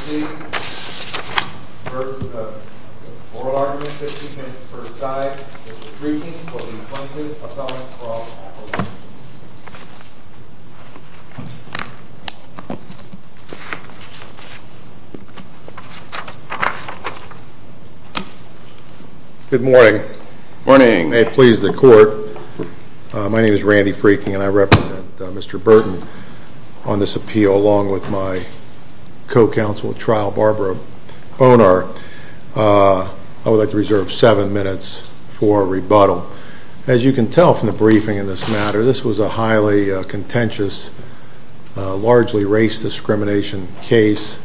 v. Oral Argument, 50 minutes per side. This briefing will be printed, appellants for all Good morning. Good morning. May it please the court, my name is Randy Freaking and I represent Mr. Burton on this appeal along with my co-counsel at trial, Barbara Bonar. I would like to reserve 7 minutes for rebuttal. As you can tell from the briefing in this matter, this was a highly contentious, largely race discrimination case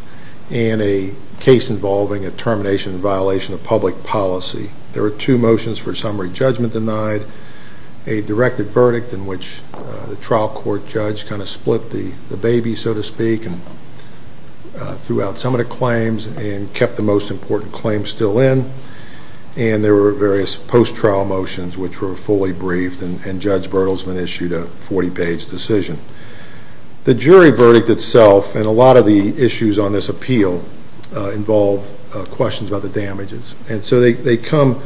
and a case involving a termination and violation of public policy. There were two motions for summary judgment denied, a directed verdict in which the trial court judge kind of split the baby so to speak and threw out some of the claims and kept the most important claims still in. And there were various post-trial motions which were fully briefed and Judge Bertelsman issued a 40 page decision. The jury verdict itself and a lot of the issues on this appeal involve questions about the damages and so they come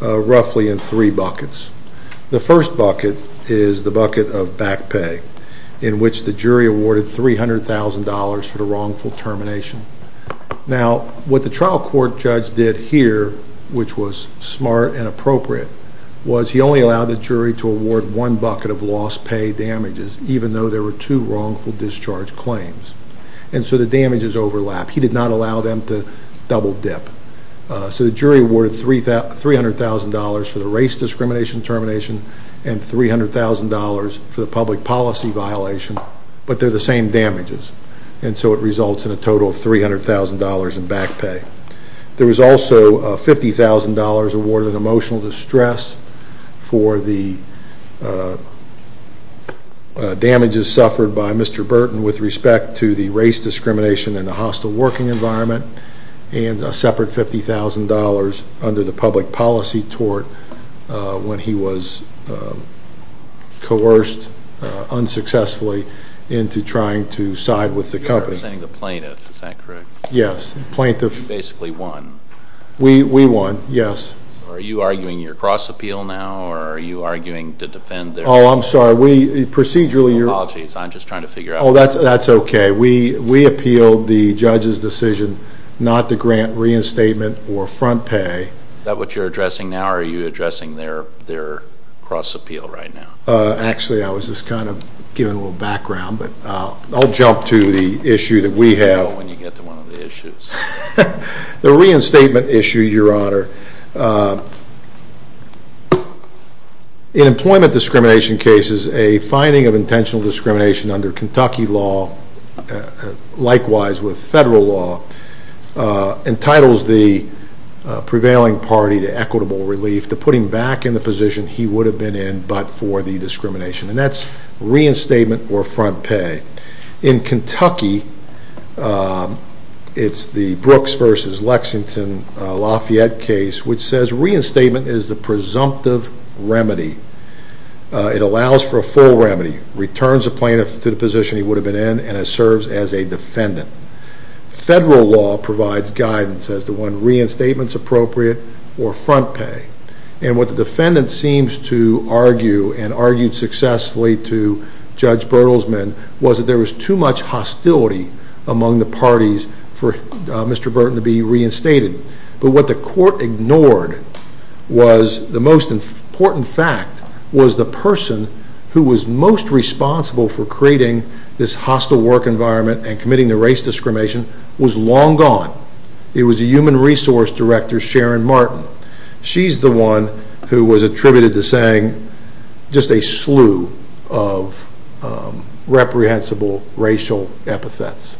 roughly in three buckets. The first bucket is the bucket of back pay in which the jury awarded $300,000 for the wrongful termination. Now what the trial court judge did here, which was smart and appropriate, was he only allowed the jury to award one bucket of lost pay damages even though there were two wrongful discharge claims. And so the damages overlap. He did not allow them to double dip. So the jury awarded $300,000 for the race discrimination termination and $300,000 for the public policy violation but they are the same damages and so it results in a total of $300,000 in back pay. There was also $50,000 awarded in emotional distress for the damages suffered by Mr. Burton with respect to the race discrimination and the hostile working environment and a separate $50,000 under the public policy tort when he was coerced unsuccessfully into trying to side with the company. You're representing the plaintiff, is that correct? Yes. You basically won. We won, yes. Are you arguing your cross appeal now or are you arguing to defend their... Oh, I'm sorry. We procedurally... Apologies, I'm just trying to figure out... Oh, that's okay. We appealed the judge's decision not to grant reinstatement or front pay. Is that what you're addressing now or are you addressing their cross appeal right now? Actually, I was just kind of giving a little background but I'll jump to the issue that we have. When you get to one of the issues. The reinstatement issue, Your Honor. In employment discrimination cases, a finding of intentional discrimination under Kentucky law, likewise with federal law, entitles the prevailing party to equitable relief to put him back in the position he would have been in but for the discrimination. And that's reinstatement or front pay. In Kentucky, it's the Brooks versus Lexington Lafayette case which says reinstatement is the presumptive remedy. It allows for a full remedy, returns a plaintiff to the position he would have been in and it serves as a defendant. Federal law provides guidance as to when reinstatement is appropriate or front pay. And what the defendant seems to argue and argued successfully to Judge Bertelsmann was that there was too much hostility among the parties for Mr. Burton to be reinstated. But what the court ignored was the most important fact was the person who was most responsible for creating this hostile work environment and committing the race discrimination was long gone. It was a human resource director, Sharon Martin. She's the one who was attributed to saying just a slew of reprehensible racial epithets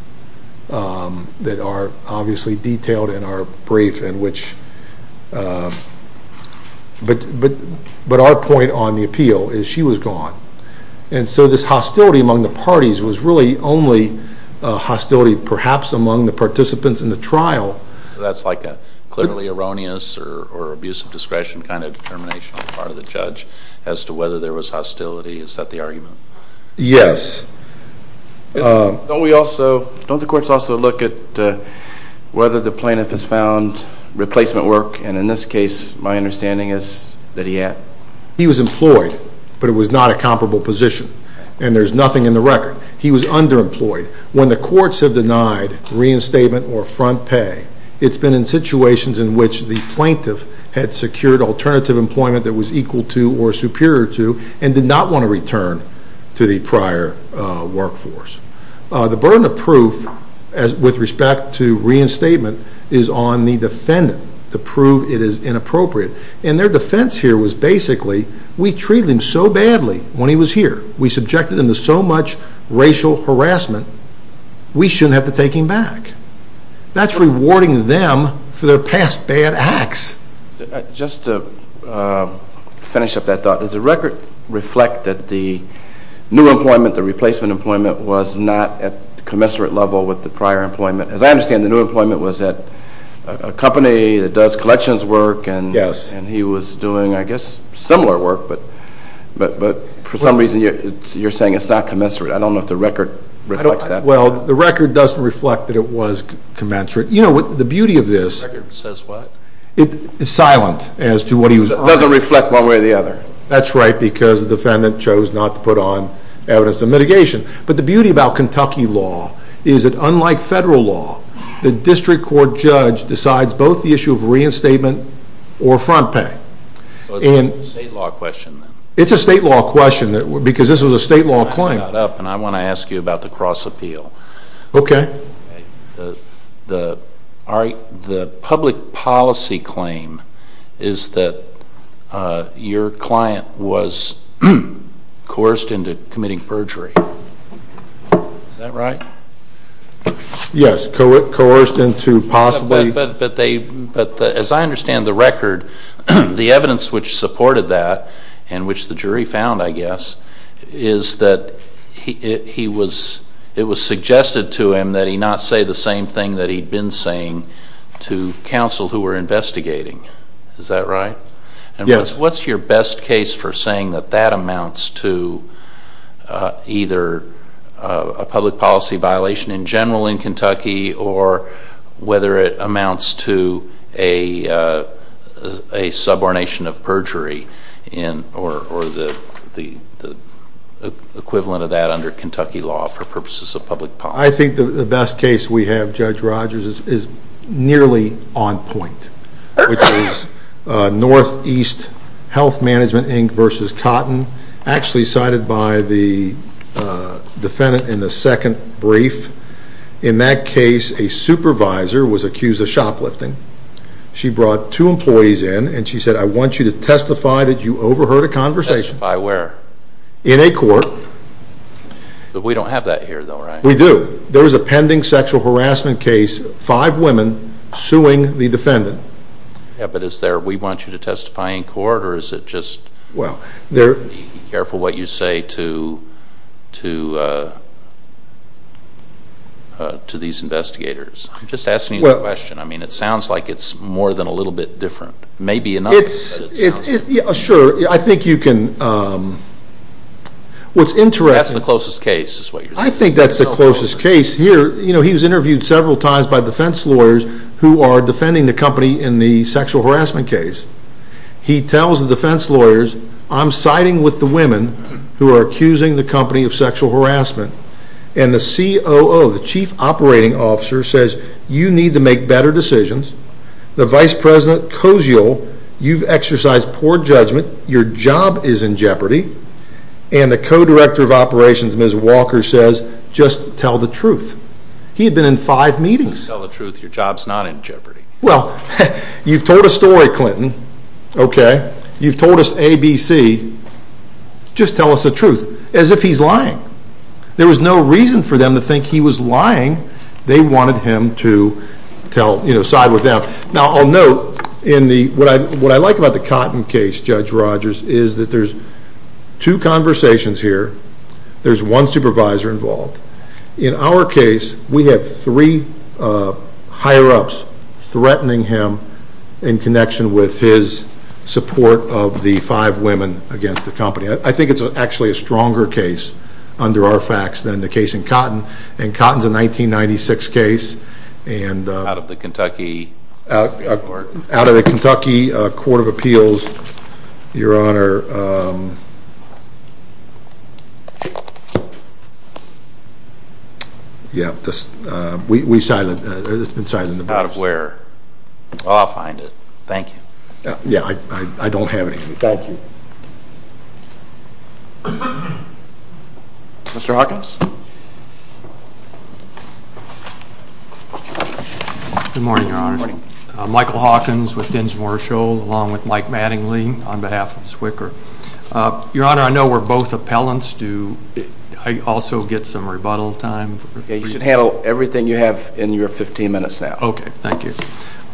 that are obviously detailed in our brief in which, but our point on the appeal is she was gone. And so this hostility among the parties was really only hostility perhaps among the participants in the trial. That's like a clearly erroneous or abusive discretion kind of determination on the part of the judge as to whether there was hostility. Is that the argument? Yes. Don't we also, don't the courts also look at whether the plaintiff has found replacement work? And in this case, my understanding is that he had. He was employed, but it was not a comparable position. And there's nothing in the record. He was underemployed. When the courts have denied reinstatement or front pay, it's been in situations in which the plaintiff had secured alternative employment that was equal to or superior to and did not want to return to the prior workforce. The burden of proof with respect to reinstatement is on the defendant to prove it is inappropriate. And their defense here was basically we treated him so badly when he was here. We subjected him to so much racial harassment, we shouldn't have to take him back. That's rewarding them for their past bad acts. Just to finish up that thought, does the record reflect that the new employment, the replacement employment was not at commensurate level with the prior employment? As I understand, the new employment was at a company that does collections work. Yes. And he was doing, I guess, similar work, but for some reason you're saying it's not commensurate. I don't know if the record reflects that. Well, the record doesn't reflect that it was commensurate. You know, the beauty of this. The record says what? It's silent as to what he was on. It doesn't reflect one way or the other. That's right, because the defendant chose not to put on evidence of mitigation. But the beauty about Kentucky law is that unlike federal law, the district court judge decides both the issue of reinstatement or front pay. So it's a state law question. It's a state law question because this was a state law claim. I want to ask you about the cross appeal. Okay. The public policy claim is that your client was coerced into committing perjury. Is that right? Yes, coerced into possibly. But as I understand the record, the evidence which supported that and which the jury found, I guess, is that it was suggested to him that he not say the same thing that he'd been saying to counsel who were investigating. Is that right? Yes. What's your best case for saying that that amounts to either a public policy violation in general in Kentucky or whether it amounts to a subordination of perjury or the equivalent of that under Kentucky law for purposes of public policy? I think the best case we have, Judge Rogers, is nearly on point, which is Northeast Health Management, Inc. v. Cotton, actually cited by the defendant in the second brief. In that case, a supervisor was accused of shoplifting. She brought two employees in, and she said, I want you to testify that you overheard a conversation. Testify where? In a court. But we don't have that here, though, right? We do. There was a pending sexual harassment case, five women suing the defendant. Yeah, but is there we want you to testify in court or is it just be careful what you say to these investigators? I'm just asking you the question. I mean, it sounds like it's more than a little bit different. Maybe enough. Sure. I think you can. What's interesting. That's the closest case is what you're saying. I think that's the closest case here. You know, he was interviewed several times by defense lawyers who are defending the company in the sexual harassment case. He tells the defense lawyers, I'm siding with the women who are accusing the company of sexual harassment. And the COO, the chief operating officer, says, you need to make better decisions. The vice president, Koziol, you've exercised poor judgment. Your job is in jeopardy. And the co-director of operations, Ms. Walker, says, just tell the truth. He had been in five meetings. Tell the truth. Your job's not in jeopardy. Well, you've told a story, Clinton. Okay. You've told us A, B, C. Just tell us the truth. As if he's lying. There was no reason for them to think he was lying. They wanted him to tell, you know, side with them. Now, I'll note, what I like about the Cotton case, Judge Rogers, is that there's two conversations here. There's one supervisor involved. In our case, we have three higher-ups threatening him in connection with his support of the five women against the company. I think it's actually a stronger case under our facts than the case in Cotton. And Cotton's a 1996 case. Out of the Kentucky Court of Appeals. Out of the Kentucky Court of Appeals, Your Honor. Yeah. We silenced. It's been silenced. Out of where? Oh, I'll find it. Thank you. Yeah. I don't have it. Thank you. Mr. Hawkins. Good morning, Your Honor. Michael Hawkins with Dinsmore & Scholl along with Mike Mattingly on behalf of Swicker. Your Honor, I know we're both appellants. Do I also get some rebuttal time? Yeah, you should handle everything you have in your 15 minutes now. Okay. Thank you.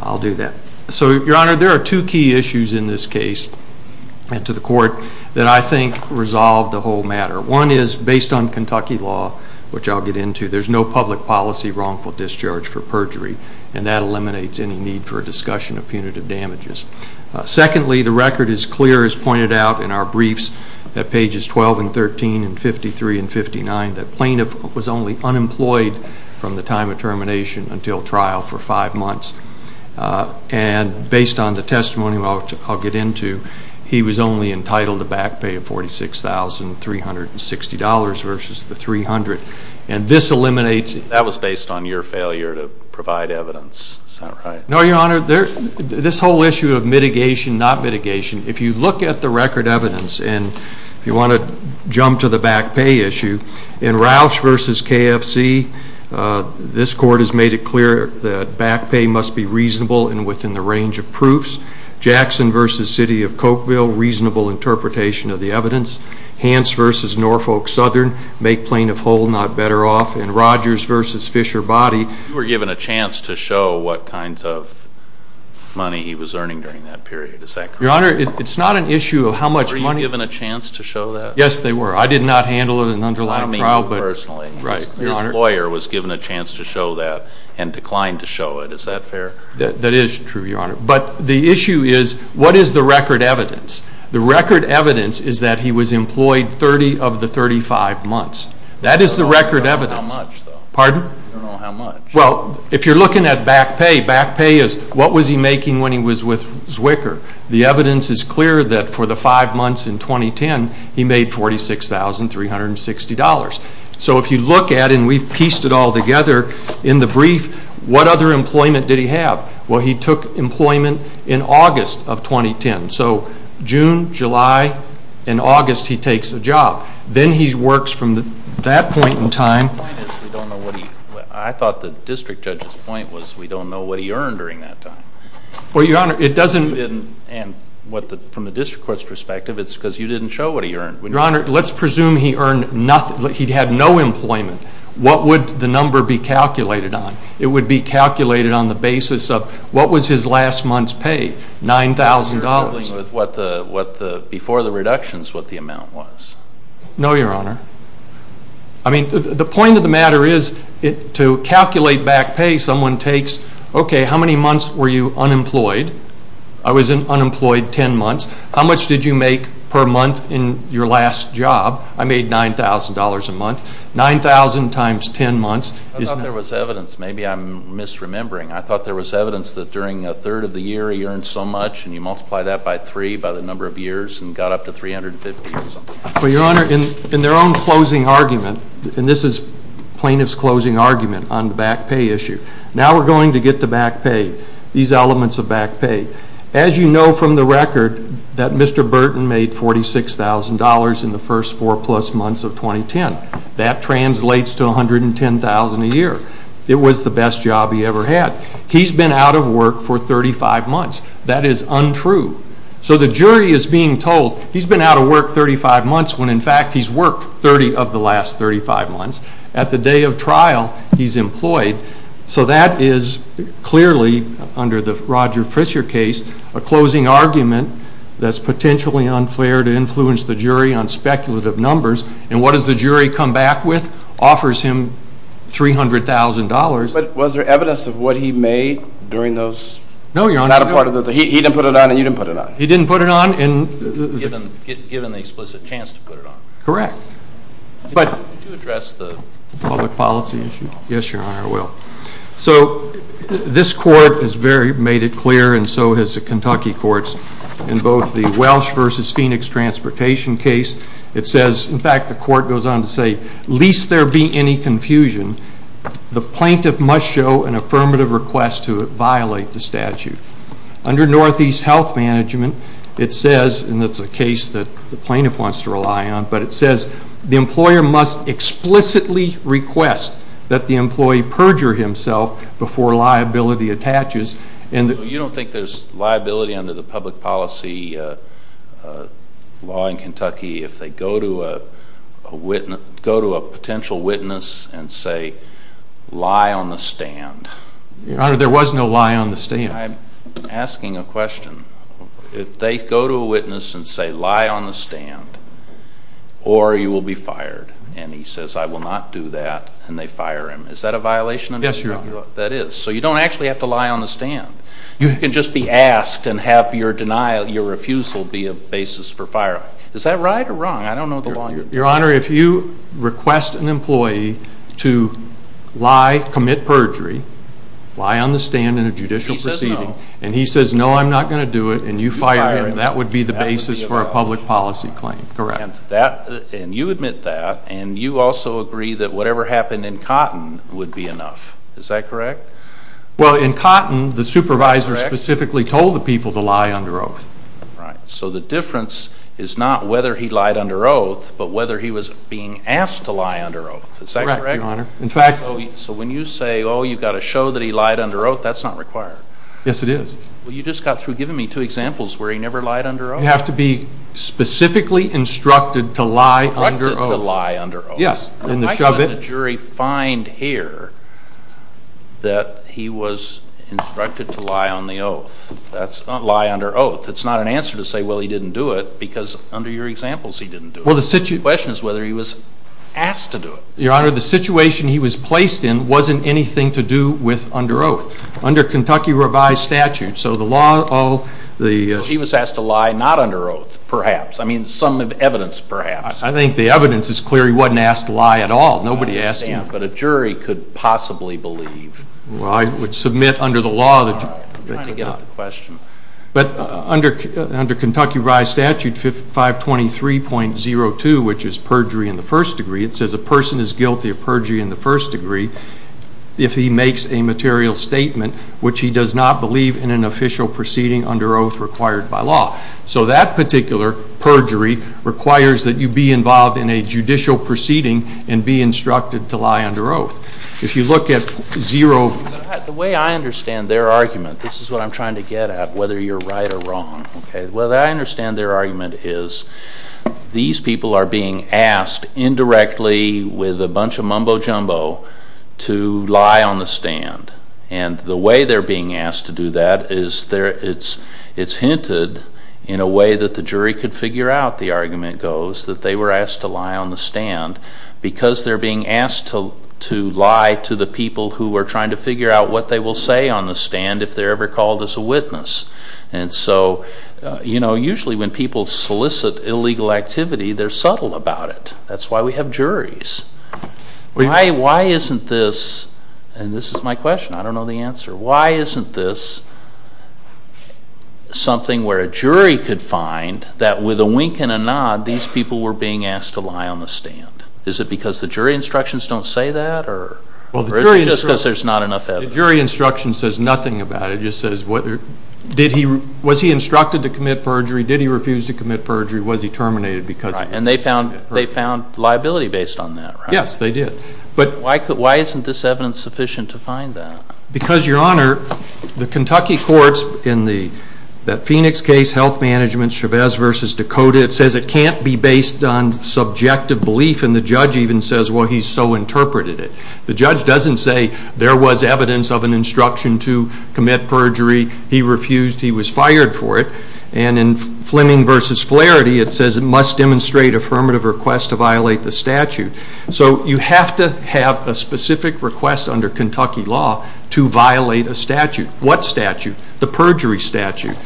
I'll do that. So, Your Honor, there are two key issues in this case and to the court that I think resolve the whole matter. One is based on Kentucky law, which I'll get into. There's no public policy wrongful discharge for perjury, and that eliminates any need for a discussion of punitive damages. Secondly, the record is clear as pointed out in our briefs at pages 12 and 13 and 53 and 59 that plaintiff was only unemployed from the time of termination until trial for five months. And based on the testimony, which I'll get into, he was only entitled to back pay of $46,360 versus the 300. And this eliminates it. That was based on your failure to provide evidence. Is that right? No, Your Honor. This whole issue of mitigation, not mitigation, if you look at the record evidence and if you want to jump to the back pay issue, in Roush v. KFC, this court has made it clear that back pay must be reasonable and within the range of proofs. Jackson v. City of Cokeville, reasonable interpretation of the evidence. Hans v. Norfolk Southern, make plaintiff whole, not better off. And Rogers v. Fisher Body. You were given a chance to show what kinds of money he was earning during that period. Is that correct? Your Honor, it's not an issue of how much money. Were you given a chance to show that? Yes, they were. I did not handle it in an underlying trial. I mean personally. Right. His lawyer was given a chance to show that and declined to show it. Is that fair? That is true, Your Honor. But the issue is what is the record evidence? The record evidence is that he was employed 30 of the 35 months. That is the record evidence. I don't know how much, though. Pardon? I don't know how much. Well, if you're looking at back pay, back pay is what was he making when he was with Zwicker. The evidence is clear that for the five months in 2010, he made $46,360. So if you look at it, and we've pieced it all together in the brief, what other employment did he have? Well, he took employment in August of 2010. So June, July, and August he takes a job. Then he works from that point in time. The point is we don't know what he, I thought the district judge's point was we don't know what he earned during that time. Well, Your Honor, it doesn't. And from the district court's perspective, it's because you didn't show what he earned. Your Honor, let's presume he earned nothing, he had no employment. What would the number be calculated on? It would be calculated on the basis of what was his last month's pay? $9,000. You're dealing with what the, before the reductions, what the amount was? No, Your Honor. I mean, the point of the matter is to calculate back pay, someone takes, okay, how many months were you unemployed? I was unemployed 10 months. How much did you make per month in your last job? I made $9,000 a month. 9,000 times 10 months. I thought there was evidence. Maybe I'm misremembering. I thought there was evidence that during a third of the year he earned so much and you multiply that by 3 by the number of years and got up to $350 or something. Well, Your Honor, in their own closing argument, and this is plaintiff's closing argument on the back pay issue, now we're going to get to back pay, these elements of back pay. As you know from the record that Mr. Burton made $46,000 in the first 4 plus months of 2010. It was the best job he ever had. He's been out of work for 35 months. That is untrue. So the jury is being told he's been out of work 35 months when, in fact, he's worked 30 of the last 35 months. At the day of trial, he's employed. So that is clearly, under the Roger Fisher case, a closing argument that's potentially unfair to influence the jury on speculative numbers. And what does the jury come back with? The jury offers him $300,000. But was there evidence of what he made during those? No, Your Honor. He didn't put it on and you didn't put it on. He didn't put it on. Given the explicit chance to put it on. Correct. Did you address the public policy issue? Yes, Your Honor, I will. So this court has made it clear and so has the Kentucky courts in both the Welsh v. Phoenix transportation case. It says, in fact, the court goes on to say, least there be any confusion, the plaintiff must show an affirmative request to violate the statute. Under Northeast Health Management, it says, and it's a case that the plaintiff wants to rely on, but it says the employer must explicitly request that the employee perjure himself before liability attaches. You don't think there's liability under the public policy law in Kentucky if they go to a potential witness and say, lie on the stand? Your Honor, there was no lie on the stand. I'm asking a question. If they go to a witness and say, lie on the stand, or you will be fired, and he says, I will not do that, and they fire him, is that a violation? Yes, Your Honor. That is. So you don't actually have to lie on the stand. You can just be asked and have your refusal be a basis for firing. Is that right or wrong? I don't know the law. Your Honor, if you request an employee to lie, commit perjury, lie on the stand in a judicial proceeding, and he says, no, I'm not going to do it, and you fire him, that would be the basis for a public policy claim, correct? And you admit that, and you also agree that whatever happened in Cotton would be enough. Is that correct? Well, in Cotton, the supervisor specifically told the people to lie under oath. Right. So the difference is not whether he lied under oath, but whether he was being asked to lie under oath. Is that correct? Correct, Your Honor. So when you say, oh, you've got to show that he lied under oath, that's not required. Yes, it is. Well, you just got through giving me two examples where he never lied under oath. You have to be specifically instructed to lie under oath. Instructed to lie under oath. Yes. And I couldn't let a jury find here that he was instructed to lie on the oath. That's not lie under oath. It's not an answer to say, well, he didn't do it, because under your examples, he didn't do it. Well, the question is whether he was asked to do it. Your Honor, the situation he was placed in wasn't anything to do with under oath. Under Kentucky revised statute, so the law all the He was asked to lie not under oath, perhaps. I mean, some evidence, perhaps. I think the evidence is clear he wasn't asked to lie at all. Nobody asked him. But a jury could possibly believe. Well, I would submit under the law that you I'm trying to get at the question. But under Kentucky revised statute 523.02, which is perjury in the first degree, it says a person is guilty of perjury in the first degree if he makes a material statement which he does not believe in an official proceeding under oath required by law. So that particular perjury requires that you be involved in a judicial proceeding and be instructed to lie under oath. If you look at 0 The way I understand their argument This is what I'm trying to get at, whether you're right or wrong. The way I understand their argument is these people are being asked indirectly with a bunch of mumbo jumbo to lie on the stand. And the way they're being asked to do that is it's hinted in a way that the jury could figure out, the argument goes, that they were asked to lie on the stand because they're being asked to lie to the people who are trying to figure out what they will say on the stand if they're ever called as a witness. And so, you know, usually when people solicit illegal activity, they're subtle about it. That's why we have juries. Why isn't this, and this is my question, I don't know the answer, why isn't this something where a jury could find that with a wink and a nod, these people were being asked to lie on the stand? Is it because the jury instructions don't say that? Or is it just because there's not enough evidence? The jury instruction says nothing about it. It just says, was he instructed to commit perjury? Was he terminated because he refused to commit perjury? Right, and they found liability based on that, right? Yes, they did. But why isn't this evidence sufficient to find that? Because, Your Honor, the Kentucky courts, in that Phoenix case, health management, Chavez v. Dakota, it says it can't be based on subjective belief, and the judge even says, well, he so interpreted it. The judge doesn't say there was evidence of an instruction to commit perjury, he refused, he was fired for it. And in Fleming v. Flaherty, it says it must demonstrate affirmative request to violate the statute. So you have to have a specific request under Kentucky law to violate a statute. What statute? The perjury statute.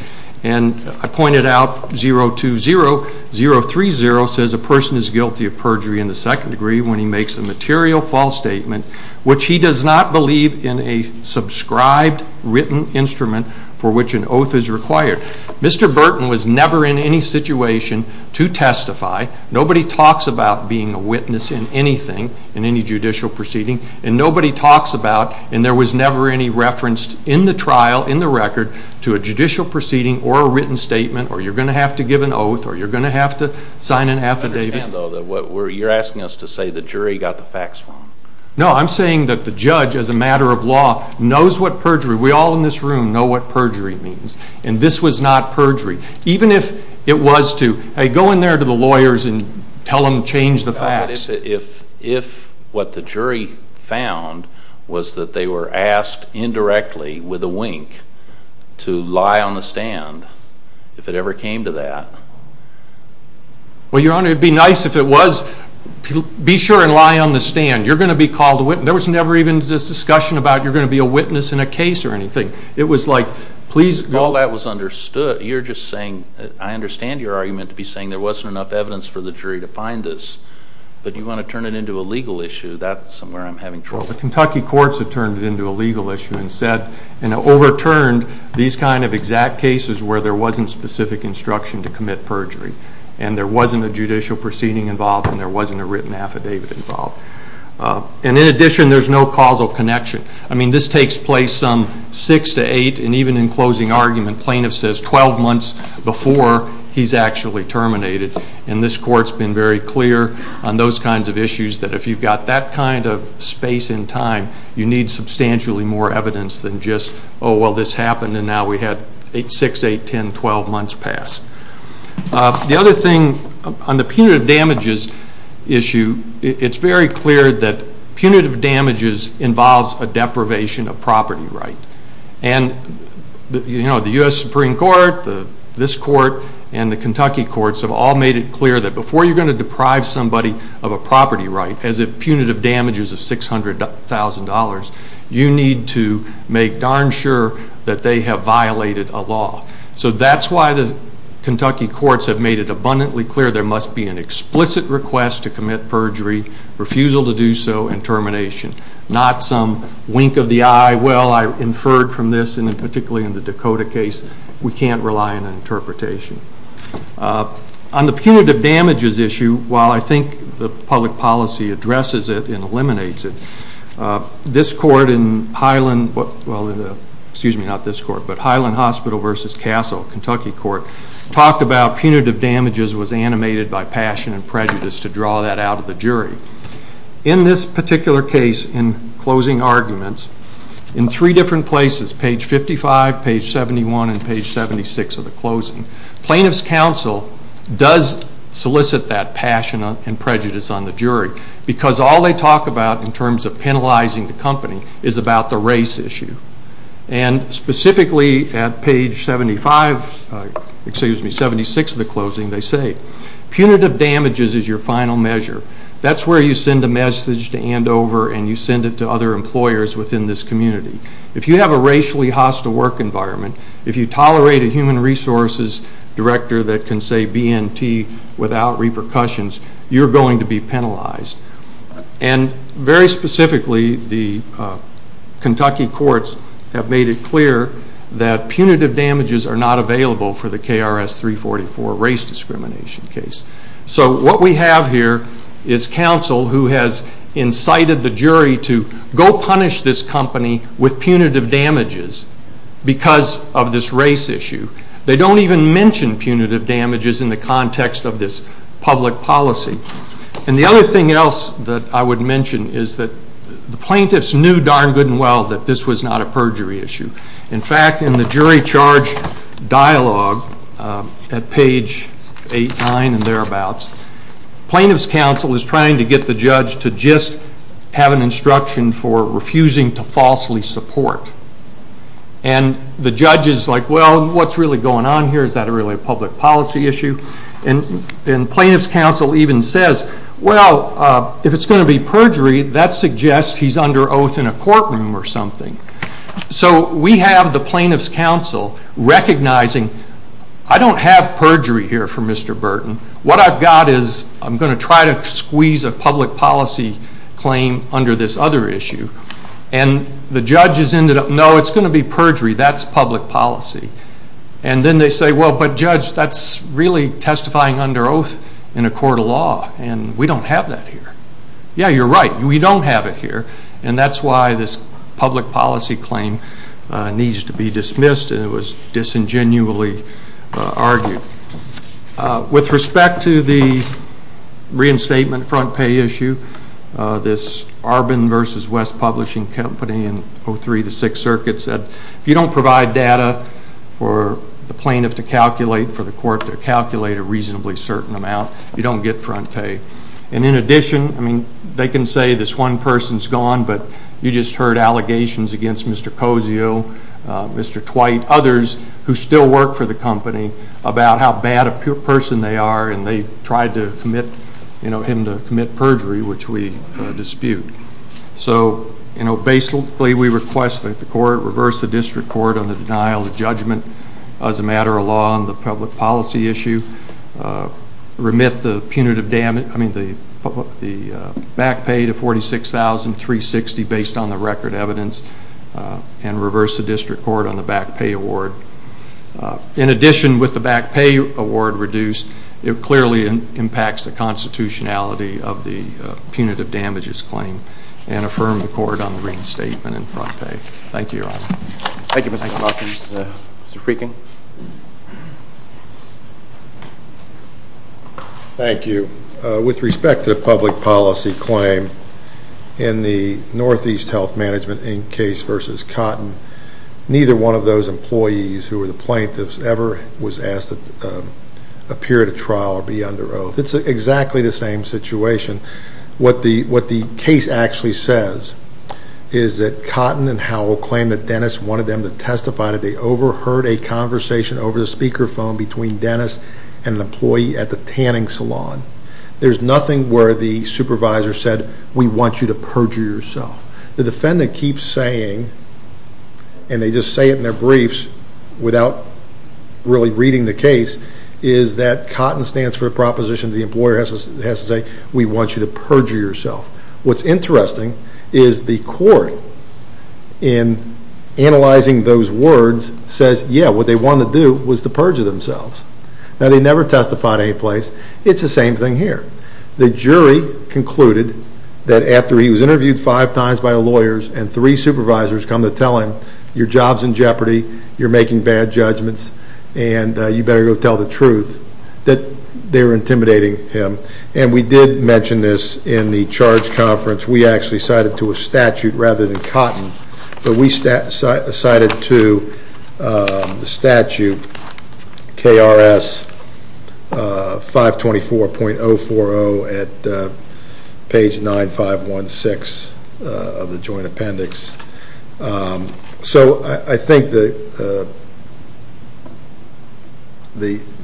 And I pointed out 020, 030 says a person is guilty of perjury in the second degree when he makes a material false statement which he does not believe in a subscribed written instrument for which an oath is required. Mr. Burton was never in any situation to testify. Nobody talks about being a witness in anything, in any judicial proceeding, and nobody talks about, and there was never any reference in the trial, in the record, to a judicial proceeding or a written statement or you're going to have to give an oath or you're going to have to sign an affidavit. I understand, though, that you're asking us to say the jury got the facts wrong. No, I'm saying that the judge, as a matter of law, knows what perjury, we all in this room know what perjury means. And this was not perjury. Even if it was to, hey, go in there to the lawyers and tell them to change the facts. If what the jury found was that they were asked indirectly with a wink to lie on the stand, if it ever came to that. Well, Your Honor, it would be nice if it was, be sure and lie on the stand. You're going to be called a witness. There was never even this discussion about you're going to be a witness in a case or anything. It was like, please go. All that was understood. You're just saying, I understand your argument to be saying there wasn't enough evidence for the jury to find this, but you want to turn it into a legal issue. That's where I'm having trouble. Well, the Kentucky courts have turned it into a legal issue and overturned these kind of exact cases where there wasn't specific instruction to commit perjury and there wasn't a judicial proceeding involved and there wasn't a written affidavit involved. And in addition, there's no causal connection. I mean, this takes place some six to eight, and even in closing argument, plaintiff says 12 months before he's actually terminated. And this court's been very clear on those kinds of issues that if you've got that kind of space and time, you need substantially more evidence than just, oh, well, this happened and now we had six, eight, ten, twelve months pass. The other thing on the punitive damages issue, it's very clear that punitive damages involves a deprivation of property right. And the U.S. Supreme Court, this court, and the Kentucky courts have all made it clear that before you're going to deprive somebody of a property right, as in punitive damages of $600,000, you need to make darn sure that they have violated a law. So that's why the Kentucky courts have made it abundantly clear there must be an explicit request to commit perjury, refusal to do so, and termination, not some wink of the eye, well, I inferred from this, and particularly in the Dakota case, we can't rely on an interpretation. On the punitive damages issue, while I think the public policy addresses it and eliminates it, this court in Highland, well, excuse me, not this court, but Highland Hospital versus Castle, Kentucky court, talked about punitive damages was animated by passion and prejudice to draw that out of the jury. In this particular case in closing arguments, in three different places, page 55, page 71, and page 76 of the closing, plaintiff's counsel does solicit that passion and prejudice on the jury because all they talk about in terms of penalizing the company is about the race issue. And specifically at page 75, excuse me, 76 of the closing, they say punitive damages is your final measure. That's where you send a message to Andover and you send it to other employers within this community. If you have a racially hostile work environment, if you tolerate a human resources director that can say BNT without repercussions, you're going to be penalized. And very specifically, the Kentucky courts have made it clear that punitive damages are not available for the KRS 344 race discrimination case. So what we have here is counsel who has incited the jury to go punish this company with punitive damages because of this race issue. They don't even mention punitive damages in the context of this public policy. And the other thing else that I would mention is that the plaintiffs knew darn good and well that this was not a perjury issue. In fact, in the jury charge dialogue at page 89 and thereabouts, plaintiff's counsel is trying to get the judge to just have an instruction for refusing to falsely support. And the judge is like, well, what's really going on here? Is that really a public policy issue? And plaintiff's counsel even says, well, if it's going to be perjury, that suggests he's under oath in a courtroom or something. So we have the plaintiff's counsel recognizing I don't have perjury here for Mr. Burton. What I've got is I'm going to try to squeeze a public policy claim under this other issue. And the judge has ended up, no, it's going to be perjury. That's public policy. And then they say, well, but judge, that's really testifying under oath in a court of law, and we don't have that here. Yeah, you're right. We don't have it here, and that's why this public policy claim needs to be dismissed, and it was disingenuously argued. With respect to the reinstatement front pay issue, this Arbonne v. West Publishing Company in 03, the Sixth Circuit said, if you don't provide data for the plaintiff to calculate for the court to calculate a reasonably certain amount, you don't get front pay. And in addition, I mean, they can say this one person's gone, but you just heard allegations against Mr. Cozio, Mr. Twight, others who still work for the company, about how bad a person they are, and they tried to commit him to commit perjury, which we dispute. So, you know, basically we request that the court reverse the district court on the denial of judgment as a matter of law on the public policy issue, remit the punitive damage, I mean, the back pay to $46,360 based on the record evidence, and reverse the district court on the back pay award. In addition, with the back pay award reduced, it clearly impacts the constitutionality of the punitive damages claim and affirm the court on the reinstatement and front pay. Thank you, Your Honor. Thank you, Mr. McLaughlin. Mr. Freaking? Thank you. With respect to the public policy claim in the Northeast Health Management Inc. case versus Cotton, neither one of those employees who were the plaintiffs ever was asked to appear at a trial or be under oath. It's exactly the same situation. What the case actually says is that Cotton and Howell claimed that Dennis wanted them to testify that they overheard a conversation over the speakerphone between Dennis and an employee at the tanning salon. There's nothing where the supervisor said, we want you to perjure yourself. The defendant keeps saying, and they just say it in their briefs without really reading the case, is that Cotton stands for a proposition that the employer has to say, we want you to perjure yourself. What's interesting is the court, in analyzing those words, says, yeah, what they wanted to do was to perjure themselves. Now, they never testified anyplace. It's the same thing here. The jury concluded that after he was interviewed five times by lawyers and three supervisors come to tell him, your job's in jeopardy, you're making bad judgments, and you better go tell the truth, that they were intimidating him. And we did mention this in the charge conference. We actually cited to a statute rather than Cotton, but we cited to the statute KRS 524.040 at page 9516 of the joint appendix. So I think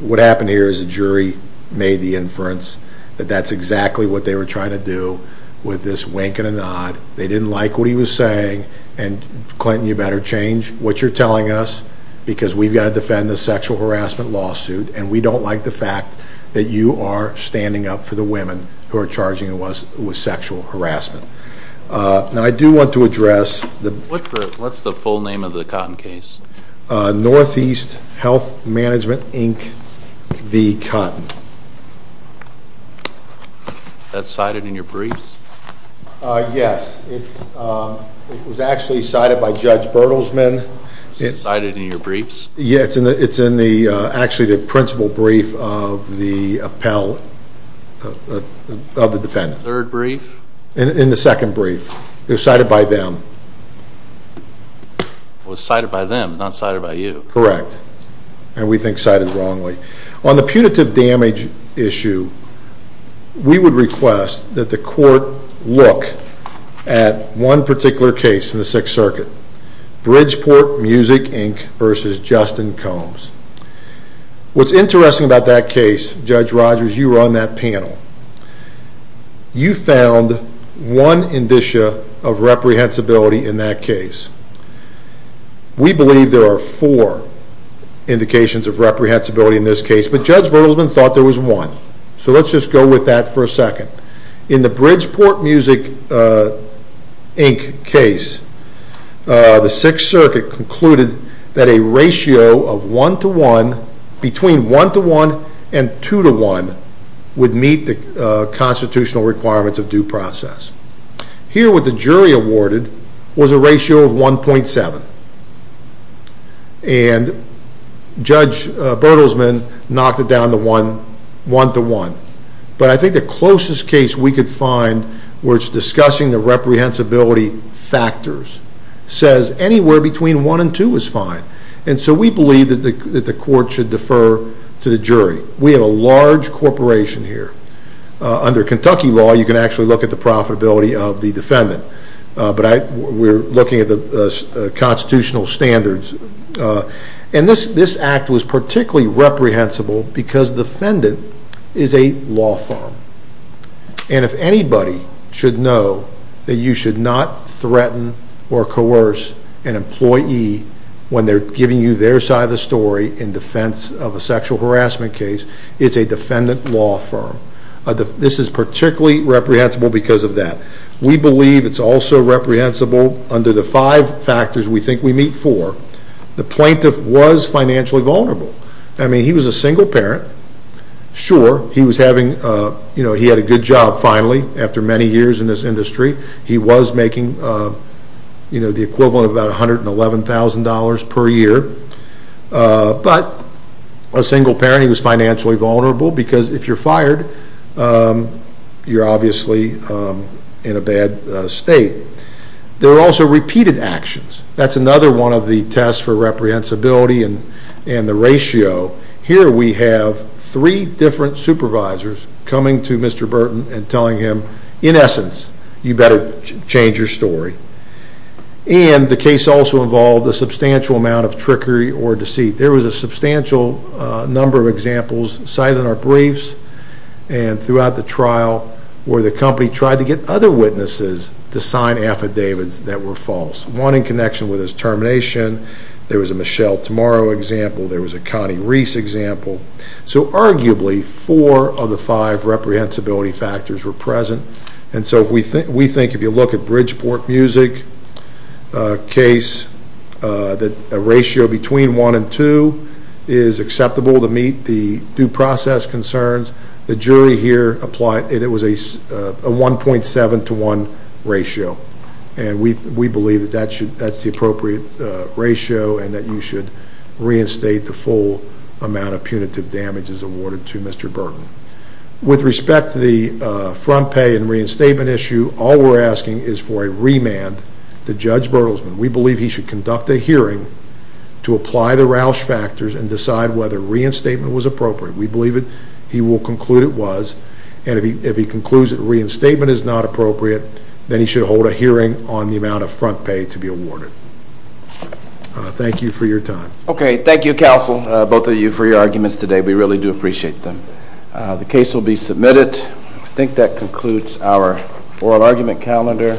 what happened here is the jury made the inference that that's exactly what they were trying to do with this wink and a nod. They didn't like what he was saying, and Clinton, you better change what you're telling us, because we've got to defend this sexual harassment lawsuit, and we don't like the fact that you are standing up for the women who are charging us with sexual harassment. Now, I do want to address the... What's the full name of the Cotton case? Northeast Health Management, Inc. v. Cotton. That's cited in your briefs? Yes. It was actually cited by Judge Bertelsman. It's cited in your briefs? Yeah, it's in actually the principal brief of the defendant. Third brief? In the second brief. It was cited by them. It was cited by them, not cited by you. Correct, and we think cited wrongly. On the punitive damage issue, we would request that the court look at one particular case in the Sixth Circuit, Bridgeport Music, Inc. v. Justin Combs. What's interesting about that case, Judge Rogers, you were on that panel. You found one indicia of reprehensibility in that case. We believe there are four indications of reprehensibility in this case, but Judge Bertelsman thought there was one. So let's just go with that for a second. In the Bridgeport Music, Inc. case, the Sixth Circuit concluded that a ratio of 1 to 1, between 1 to 1 and 2 to 1, would meet the constitutional requirements of due process. Here what the jury awarded was a ratio of 1.7, and Judge Bertelsman knocked it down to 1 to 1. But I think the closest case we could find where it's discussing the reprehensibility factors says anywhere between 1 and 2 is fine. And so we believe that the court should defer to the jury. We have a large corporation here. Under Kentucky law, you can actually look at the profitability of the defendant, but we're looking at the constitutional standards. And this act was particularly reprehensible because the defendant is a law firm. And if anybody should know that you should not threaten or coerce an employee when they're giving you their side of the story in defense of a sexual harassment case, it's a defendant law firm. This is particularly reprehensible because of that. We believe it's also reprehensible under the five factors we think we meet for. The plaintiff was financially vulnerable. I mean, he was a single parent. Sure, he had a good job, finally, after many years in this industry. He was making the equivalent of about $111,000 per year. But a single parent, he was financially vulnerable, because if you're fired, you're obviously in a bad state. There were also repeated actions. That's another one of the tests for reprehensibility and the ratio. Here we have three different supervisors coming to Mr. Burton and telling him, in essence, you better change your story. And the case also involved a substantial amount of trickery or deceit. There was a substantial number of examples cited in our briefs and throughout the trial where the company tried to get other witnesses to sign affidavits that were false, one in connection with his termination. There was a Michelle Tomorrow example. There was a Connie Reese example. So arguably four of the five reprehensibility factors were present. And so we think if you look at Bridgeport Music case, that a ratio between one and two is acceptable to meet the due process concerns. The jury here applied, and it was a 1.7 to 1 ratio. And we believe that that's the appropriate ratio and that you should reinstate the full amount of punitive damages awarded to Mr. Burton. With respect to the front pay and reinstatement issue, all we're asking is for a remand to Judge Bertelsman. We believe he should conduct a hearing to apply the Roush factors and decide whether reinstatement was appropriate. We believe he will conclude it was. And if he concludes that reinstatement is not appropriate, then he should hold a hearing on the amount of front pay to be awarded. Thank you for your time. Okay. Thank you, counsel, both of you, for your arguments today. We really do appreciate them. The case will be submitted. I think that concludes our oral argument calendar.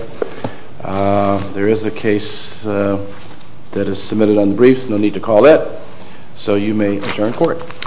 There is a case that is submitted on the briefs. No need to call it. So you may adjourn court.